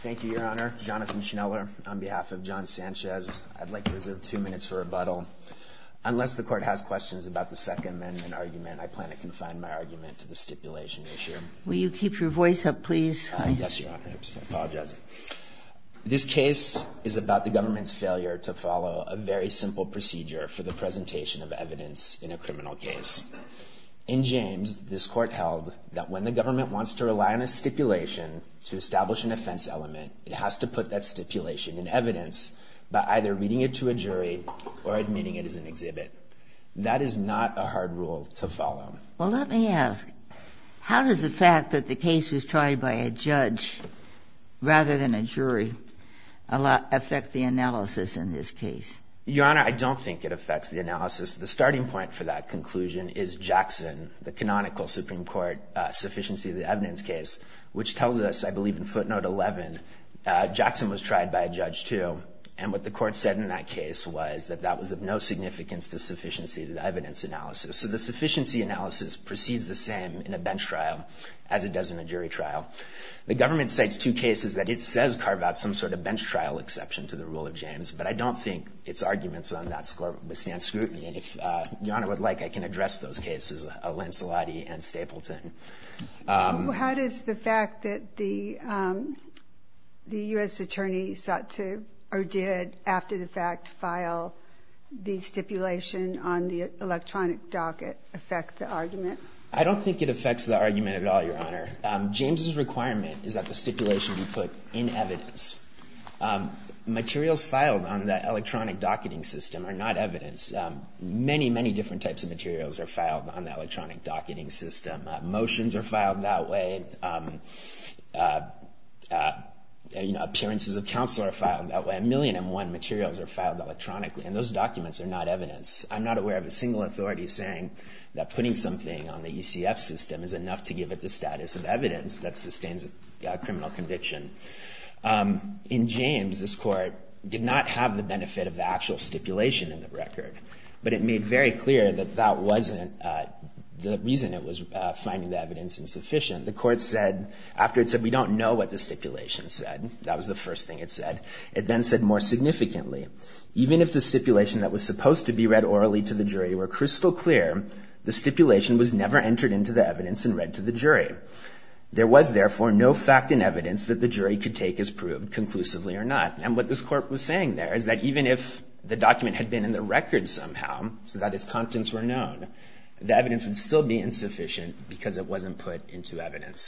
Thank you, Your Honor. Jonathan Schneller on behalf of John Sanchez. I'd like to reserve two minutes for rebuttal. Unless the Court has questions about the Second Amendment argument, I plan to confine my argument to the stipulation issue. Will you keep your voice up, please? Yes, Your Honor. I apologize. This case is about the government's failure to follow a very simple procedure for the presentation of evidence in a criminal case. In James, this Court held that when the government wants to rely on a stipulation to establish an offense element, it has to put that stipulation in evidence by either reading it to a jury or admitting it as an exhibit. That is not a hard rule to follow. Well, let me ask. How does the fact that the case was tried by a judge rather than a jury affect the analysis in this case? Your Honor, I don't think it affects the analysis. The starting point for that conclusion is Jackson, the canonical Supreme Court sufficiency of the evidence case, which tells us, I believe, in footnote 11, Jackson was tried by a judge, too. And what the Court said in that case was that that was of no significance to sufficiency of the evidence analysis. So the sufficiency analysis proceeds the same in a bench trial as it does in a jury trial. The government cites two cases that it says carve out some sort of bench trial exception to the rule of James, but I don't think its arguments on that score withstand scrutiny. And if Your Honor would like, I can address those cases, Al-Ansolati and Stapleton. How does the fact that the U.S. Attorney sought to, or did, after the fact, file the stipulation on the electronic docket affect the argument? I don't think it affects the argument at all, Your Honor. James' requirement is that the stipulation be put in evidence. Materials filed on the electronic docketing system are not evidence. Many, many different types of materials are filed on the electronic docketing system. Motions are filed that way. Appearances of counsel are filed that way. A million and one materials are filed electronically, and those documents are not evidence. I'm not aware of a single authority saying that putting something on the UCF system is enough to give it the status of evidence that sustains a criminal conviction. In James, this Court did not have the benefit of the actual stipulation in the record, but it made very clear that that wasn't the reason it was finding the evidence insufficient. The Court said, after it said, we don't know what the stipulation said, that was the first thing it said, it then said more significantly, even if the stipulation that was supposed to be read orally to the jury were crystal clear, the stipulation was never entered into the evidence and read to the jury. There was, therefore, no fact and evidence that the jury could take as proved, conclusively or not. And what this Court was saying there is that even if the document had been in the record somehow, so that its contents were known, the evidence would still be insufficient because it wasn't put into evidence.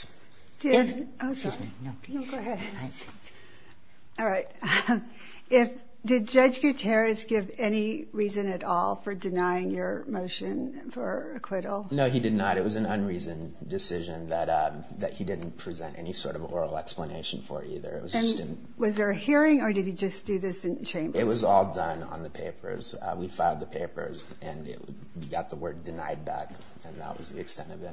Did... Excuse me. No, go ahead. I see. All right. Did Judge Gutierrez give any reason at all for denying your motion for acquittal? No, he did not. It was an unreasoned decision that he didn't present any sort of oral explanation for either. It was just... And was there a hearing or did he just do this in chambers? It was all done on the papers. We filed the papers and it got the word denied back, and that was the extent of it.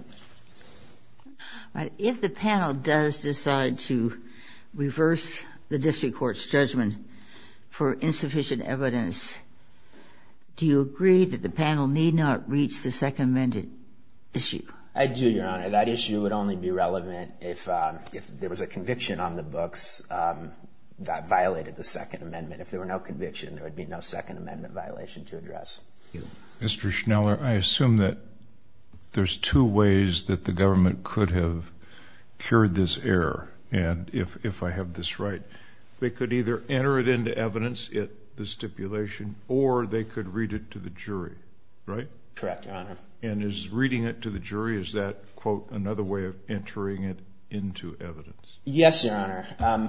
All right. If the panel does decide to reverse the district court's judgment for insufficient evidence, do you agree that the panel need not reach the Second Amendment issue? I do, Your Honor. That issue would only be relevant if there was a conviction on the books that violated the Second Amendment. If there were no conviction, there would be no Second Amendment violation to address. Thank you. Mr. Schneller, I assume that there's two ways that the government could have cured this error, and if I have this right, they could either enter it into evidence, the stipulation, or they could read it to the jury, right? Correct, Your Honor. And is reading it to the jury, is that, quote, another way of entering it into evidence? Yes, Your Honor.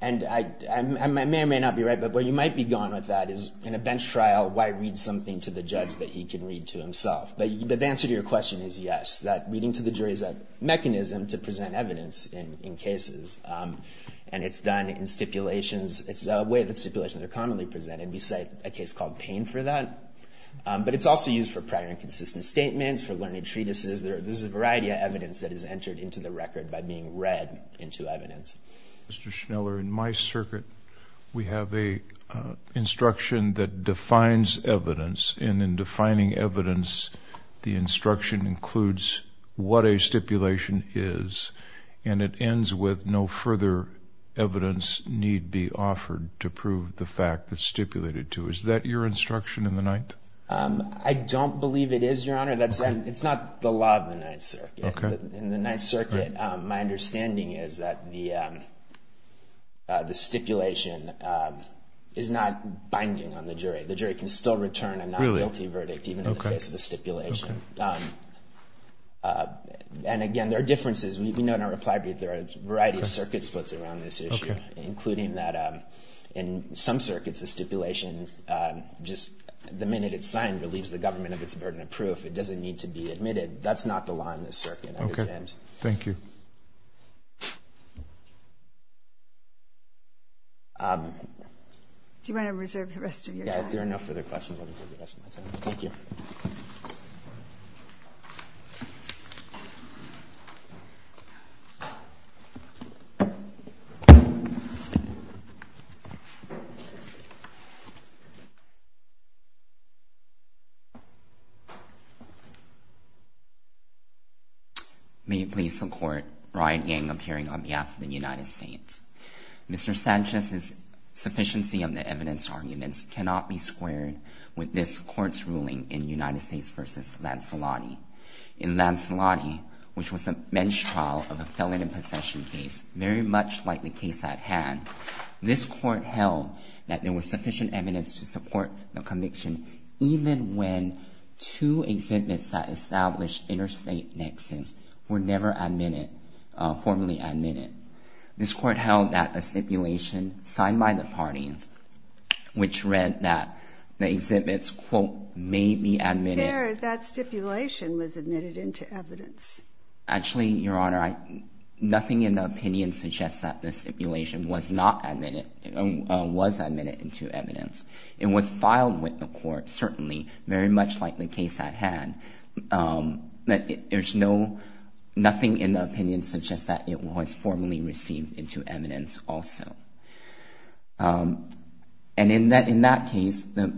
And I may or may not be right, but where you might be going with that is in a bench trial, why read something to the judge that he can read to himself? But the answer to your question is yes, that reading to the jury is a mechanism to present evidence in cases, and it's done in stipulations. It's a way that stipulations are commonly presented. We cite a case called Payne for that, but it's also used for prior inconsistent statements, for learning treatises. There's a variety of evidence that is entered into the record by being read into evidence. Mr. Schneller, in my circuit, we have a instruction that defines evidence, and in defining evidence, the instruction includes what a stipulation is, and it ends with no further evidence need be offered to prove the fact that it's stipulated to. Is that your instruction in the Ninth? I don't believe it is, Your Honor. It's not the law of the Ninth Circuit. In the Ninth Circuit, my understanding is that the stipulation is not binding on the jury. The jury can still return a non-guilty verdict even in the face of a stipulation. And again, there are differences. We know in our reply brief there are a variety of circuit splits around this issue, including that in some circuits, a stipulation, just the minute it's signed, relieves the government of its burden of proof. It doesn't need to be admitted. That's not the law in this circuit. Okay. Thank you. Do you want to reserve the rest of your time? Yeah, if there are no further questions, I'll reserve the rest of my time. Thank you. May it please the Court. Ryan Yang, appearing on behalf of the United States. Mr. Sanchez's sufficiency of the evidence arguments cannot be squared with this Court's ruling in United States v. Lancelotti. In Lancelotti, which was a menstrual of a felon in possession case, very much like the case at hand, this Court held that there was sufficient evidence to support the conviction even when two exhibits that established interstate nexus were never admitted, formally admitted. This Court held that a stipulation signed by the parties, which read that the exhibits, quote, may be admitted. There, that stipulation was admitted into evidence. Actually, Your Honor, nothing in the opinion suggests that the stipulation was not admitted, was admitted into evidence. In what's filed with the Court, certainly, very much like the case at hand, that there's no, nothing in the opinion suggests that it was formally received into evidence also. And in that case, the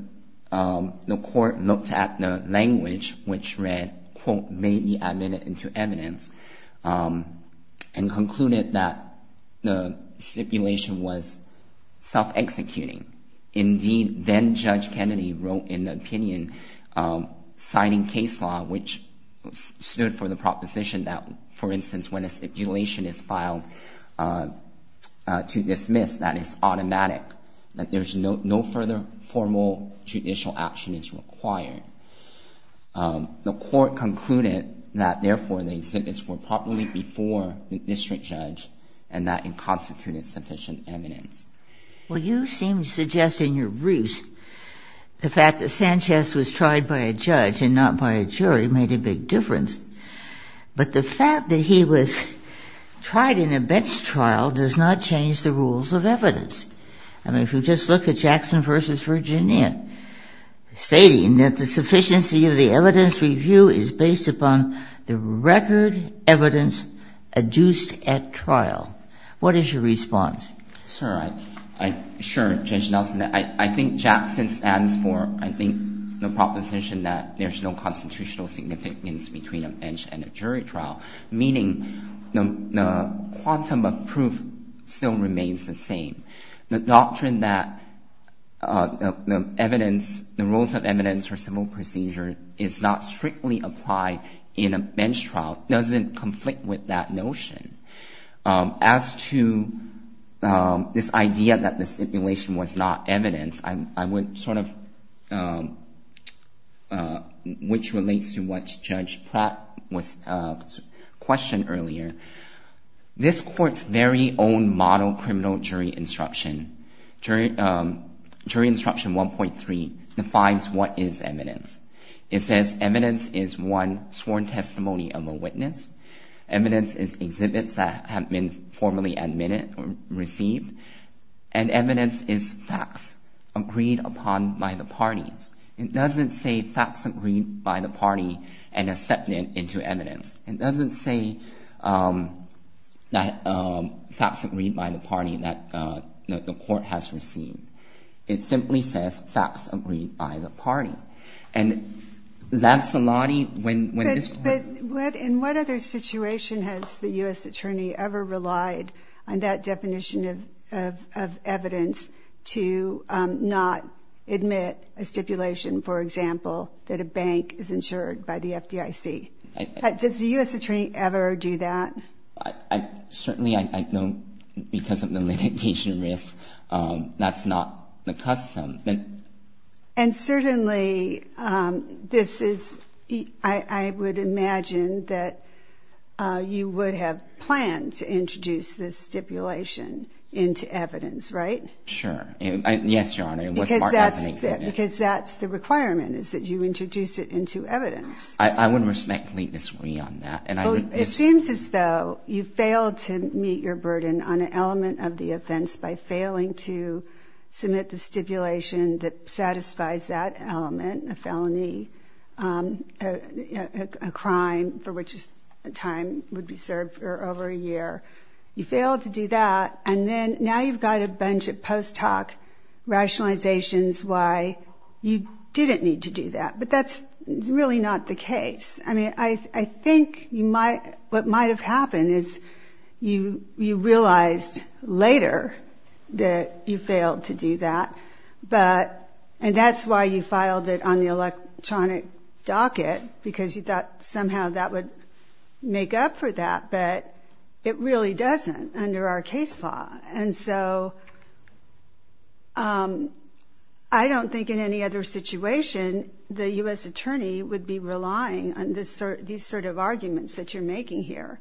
Court looked at the language, which read, quote, may be admitted into evidence, and concluded that the stipulation was self-executing. Indeed, then-Judge Kennedy wrote in the opinion, citing case law, which stood for the proposition that, for instance, when a stipulation is filed to dismiss, that it's automatic, that there's no further formal judicial action is required. The Court concluded that, therefore, the exhibits were properly before the district judge, and that it constituted sufficient evidence. Well, you seem to suggest in your briefs the fact that Sanchez was tried by a judge and not by a jury made a big difference. But the fact that he was tried in a bench trial does not change the rules of evidence. I mean, if you just look at Jackson v. Virginia, stating that the sufficiency of the evidence review is based upon the record evidence adduced at trial. What is your response? Sir, I'm sure, Judge Nelson, I think Jackson stands for, I think, the proposition that there's no constitutional significance between a bench and a jury trial, meaning the quantum of proof still remains the same. The doctrine that the evidence, the rules of evidence for civil procedure is not strictly applied in a bench trial doesn't conflict with that notion. As to this idea that the stipulation was not evidence, I would sort of, which relates to what Judge Pratt questioned earlier, this Court's very own model criminal jury instruction, jury instruction 1.3, defines what is evidence. It says evidence is one sworn testimony of a witness. Evidence is exhibits that have been formally admitted or received. And evidence is facts agreed upon by the parties. It doesn't say facts agreed by the party and accepted into evidence. It doesn't say that facts agreed by the party that the Court has received. It simply says facts agreed by the party. And that's a lot of when this Court... But in what other situation has the U.S. Attorney ever relied on that definition of evidence to not admit a stipulation, for example, that a bank is insured by the FDIC? Does the U.S. Attorney ever do that? Certainly, I don't, because of the litigation risk, that's not the custom. And certainly, this is, I would imagine that you would have planned to introduce this stipulation into evidence, right? Sure. Yes, Your Honor. Because that's the requirement, is that you introduce it into evidence. I would respectfully disagree on that. Well, it seems as though you failed to meet your burden on an element of the offense by failing to submit the stipulation that satisfies that element, a felony, a crime for which a time would be served for over a year. You failed to do that, and then now you've got a bunch of post hoc rationalizations why you didn't need to do that. But that's really not the case. I think what might have happened is you realized later that you failed to do that, and that's why you filed it on the electronic docket, because you thought somehow that would make up for that. But it really doesn't under our case law. And so, I don't think in any other situation the U.S. attorney would be relying on these sort of arguments that you're making here.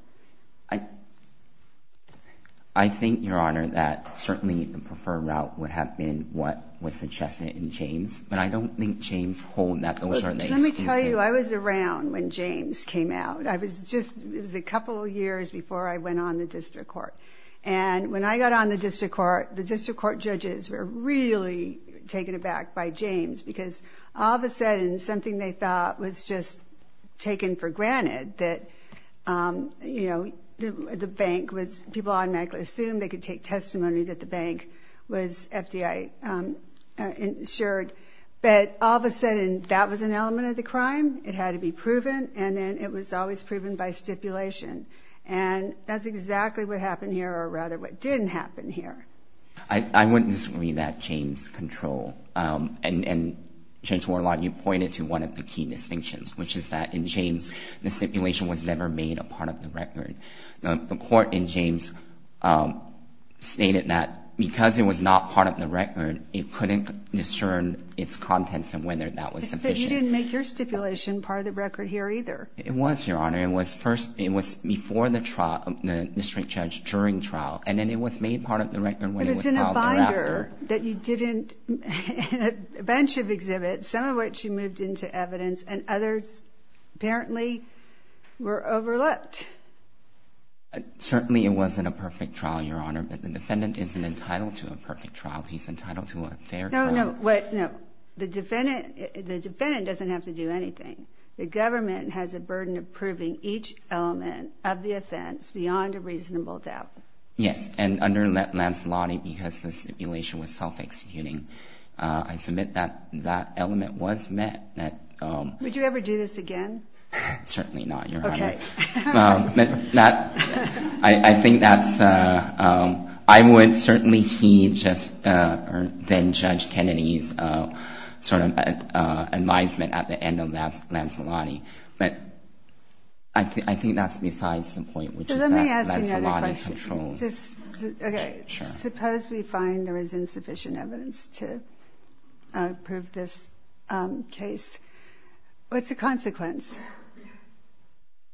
I think, Your Honor, that certainly the preferred route would have been what was suggested in James, but I don't think James hold that those are the excuses. Let me tell you, I was around when James came out. It was a couple of years before I went on the district court. And when I got on the district court, the district court judges were really taken aback by James, because all of a sudden something they thought was just taken for granted, that people automatically assumed they could take testimony that the bank was FDI insured. But all of a sudden, that was an element of the crime. It had to be proven, and then it was always proven by stipulation. And that's exactly what happened here, or rather what didn't happen here. I wouldn't disagree that James controlled. And Judge Warlock, you pointed to one of the key distinctions, which is that in James, the stipulation was never made a part of the record. The court in James stated that because it was not part of the record, it couldn't discern its contents and whether that was sufficient. But you didn't make your stipulation part of the record here either. It was, Your Honor. It was before the trial, the district judge, during trial, and then it was made part of the record when it was filed thereafter. But it's in a binder that you did in a bunch of exhibits, some of which you moved into evidence, and others apparently were overlooked. Certainly it wasn't a perfect trial, Your Honor, but the defendant isn't entitled to a perfect trial. He's entitled to a fair trial. No, no, wait, no. The defendant doesn't have to do anything. The government has a burden of proving each element of the offense beyond a reasonable doubt. Yes, and under Lancelotti, because the stipulation was self-executing, I submit that that element was met. Would you ever do this again? Certainly not, Your Honor. Okay. I think that's, I would certainly heed just then Judge Kennedy's sort of advisement at the end of Lancelotti. But I think that's besides the point, which is that Lancelotti controls. Let me ask you another question. Okay. Sure. Suppose we find there is insufficient evidence to prove this case. What's the consequence?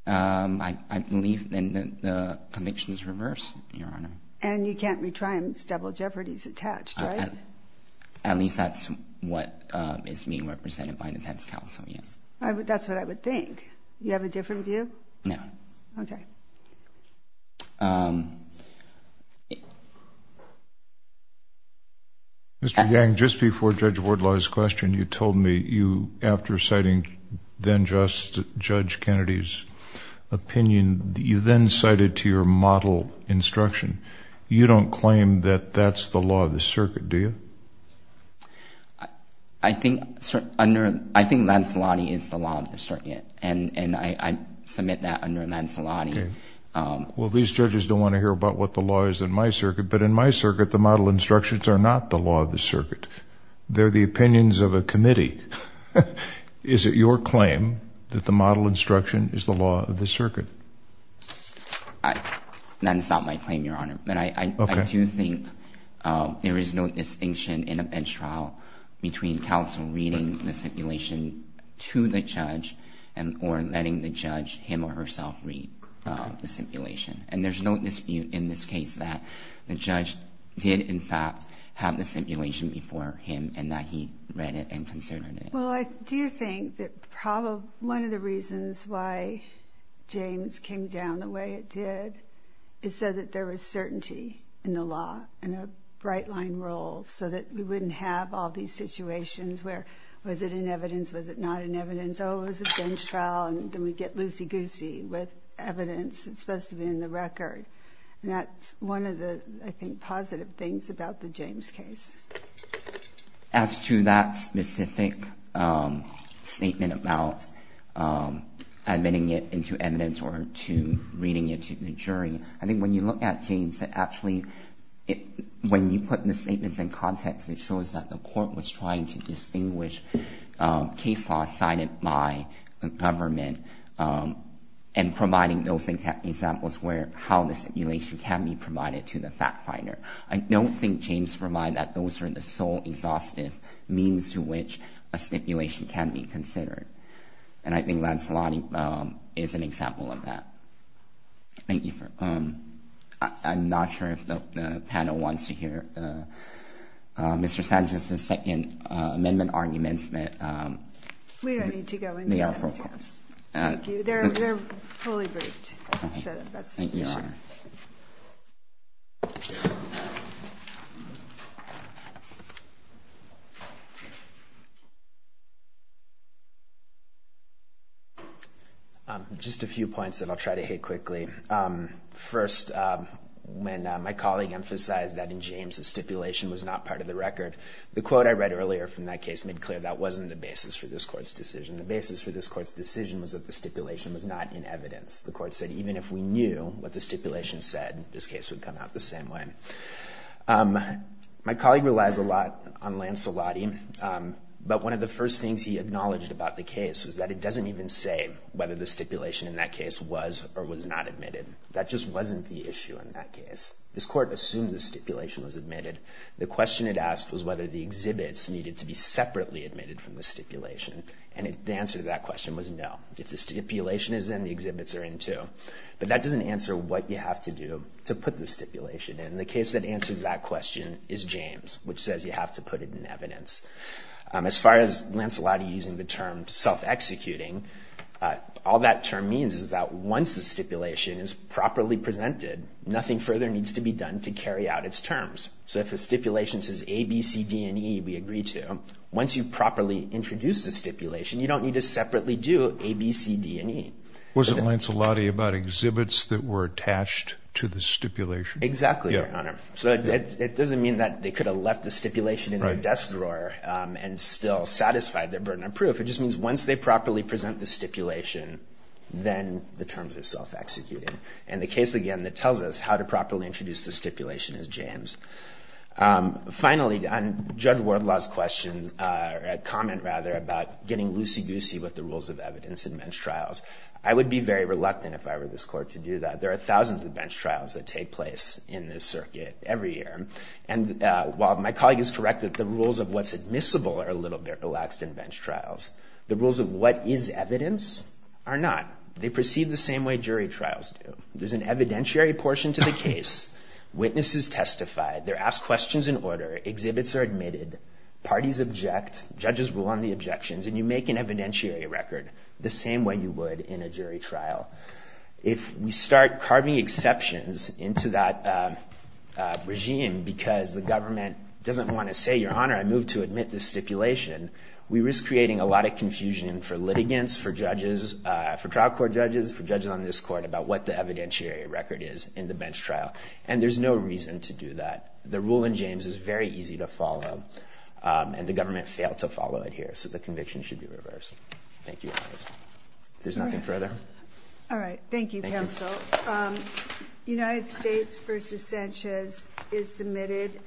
I believe then the conviction is reversed, Your Honor. And you can't retry him. It's double jeopardy is attached, right? At least that's what is being represented by defense counsel, yes. That's what I would think. Do you have a different view? No. Okay. Mr. Yang, just before Judge Wardlaw's question, you told me you, after citing then-Justice Judge Kennedy's opinion, you then cited to your model instruction. You don't claim that that's the law of the circuit, do you? I think Lancelotti is the law of the circuit, and I submit that under Lancelotti. Okay. Well, these judges don't want to hear about what the law is in my circuit, but in my circuit the model instructions are not the law of the circuit. They're the opinions of a committee. Is it your claim that the model instruction is the law of the circuit? That is not my claim, Your Honor. Okay. I do think there is no distinction in a bench trial between counsel reading the stipulation, and there's no dispute in this case that the judge did, in fact, have the stipulation before him and that he read it and considered it. Well, I do think that one of the reasons why James came down the way it did is so that there was certainty in the law and a bright-line rule so that we wouldn't have all these situations where was it in evidence, was it not in evidence, it's supposed to be in the record. And that's one of the, I think, positive things about the James case. As to that specific statement about admitting it into evidence or to reading it to the jury, I think when you look at James, it actually, when you put the statements in context, it shows that the court was trying to distinguish case law cited by the government and providing those examples where how the stipulation can be provided to the fact finder. I don't think James provided that those are the sole exhaustive means to which a stipulation can be considered. And I think Lancelot is an example of that. Thank you. I'm not sure if the panel wants to hear Mr. Sanchez's second amendment argument. We don't need to go into that. Thank you. They're fully briefed. Thank you, Your Honor. Just a few points that I'll try to hit quickly. First, when my colleague emphasized that in James the stipulation was not part of the record, the quote I read earlier from that case made clear that wasn't the basis for this court's decision. The basis for this court's decision was that the stipulation was not in evidence. The court said even if we knew what the stipulation said, this case would come out the same way. My colleague relies a lot on Lancelotti, but one of the first things he acknowledged about the case was that it doesn't even say whether the stipulation in that case was or was not admitted. That just wasn't the issue in that case. This court assumed the stipulation was admitted. The question it asked was whether the exhibits needed to be separately admitted from the stipulation. And the answer to that question was no. If the stipulation is in, the exhibits are in, too. But that doesn't answer what you have to do to put the stipulation in. The case that answers that question is James, which says you have to put it in evidence. As far as Lancelotti using the term self-executing, all that term means is that once the stipulation is properly presented, nothing further needs to be done to carry out its terms. So if the stipulation says A, B, C, D, and E, we agree to. Once you properly introduce the stipulation, you don't need to separately do A, B, C, D, and E. Wasn't Lancelotti about exhibits that were attached to the stipulation? Exactly, Your Honor. So it doesn't mean that they could have left the stipulation in their desk drawer and still satisfied their burden of proof. It just means once they properly present the stipulation, then the terms are self-executing. And the case, again, that tells us how to properly introduce the stipulation is James. Finally, on Judge Wardlaw's comment about getting loosey-goosey with the rules of evidence in bench trials, I would be very reluctant if I were this court to do that. There are thousands of bench trials that take place in this circuit every year. And while my colleague is correct that the rules of what's admissible are a little bit relaxed in bench trials, the rules of what is evidence are not. They proceed the same way jury trials do. There's an evidentiary portion to the case. Witnesses testify. They're asked questions in order. Exhibits are admitted. Parties object. Judges rule on the objections. And you make an evidentiary record the same way you would in a jury trial. If we start carving exceptions into that regime because the government doesn't want to say, Your Honor, I move to admit this stipulation, we risk creating a lot of confusion for litigants, for judges, for trial court judges, for judges on this court about what the evidentiary record is in the bench trial. And there's no reason to do that. The rule in James is very easy to follow. And the government failed to follow it here. So the conviction should be reversed. Thank you. If there's nothing further. All right. Thank you, counsel. Thank you. United States v. Sanchez is submitted.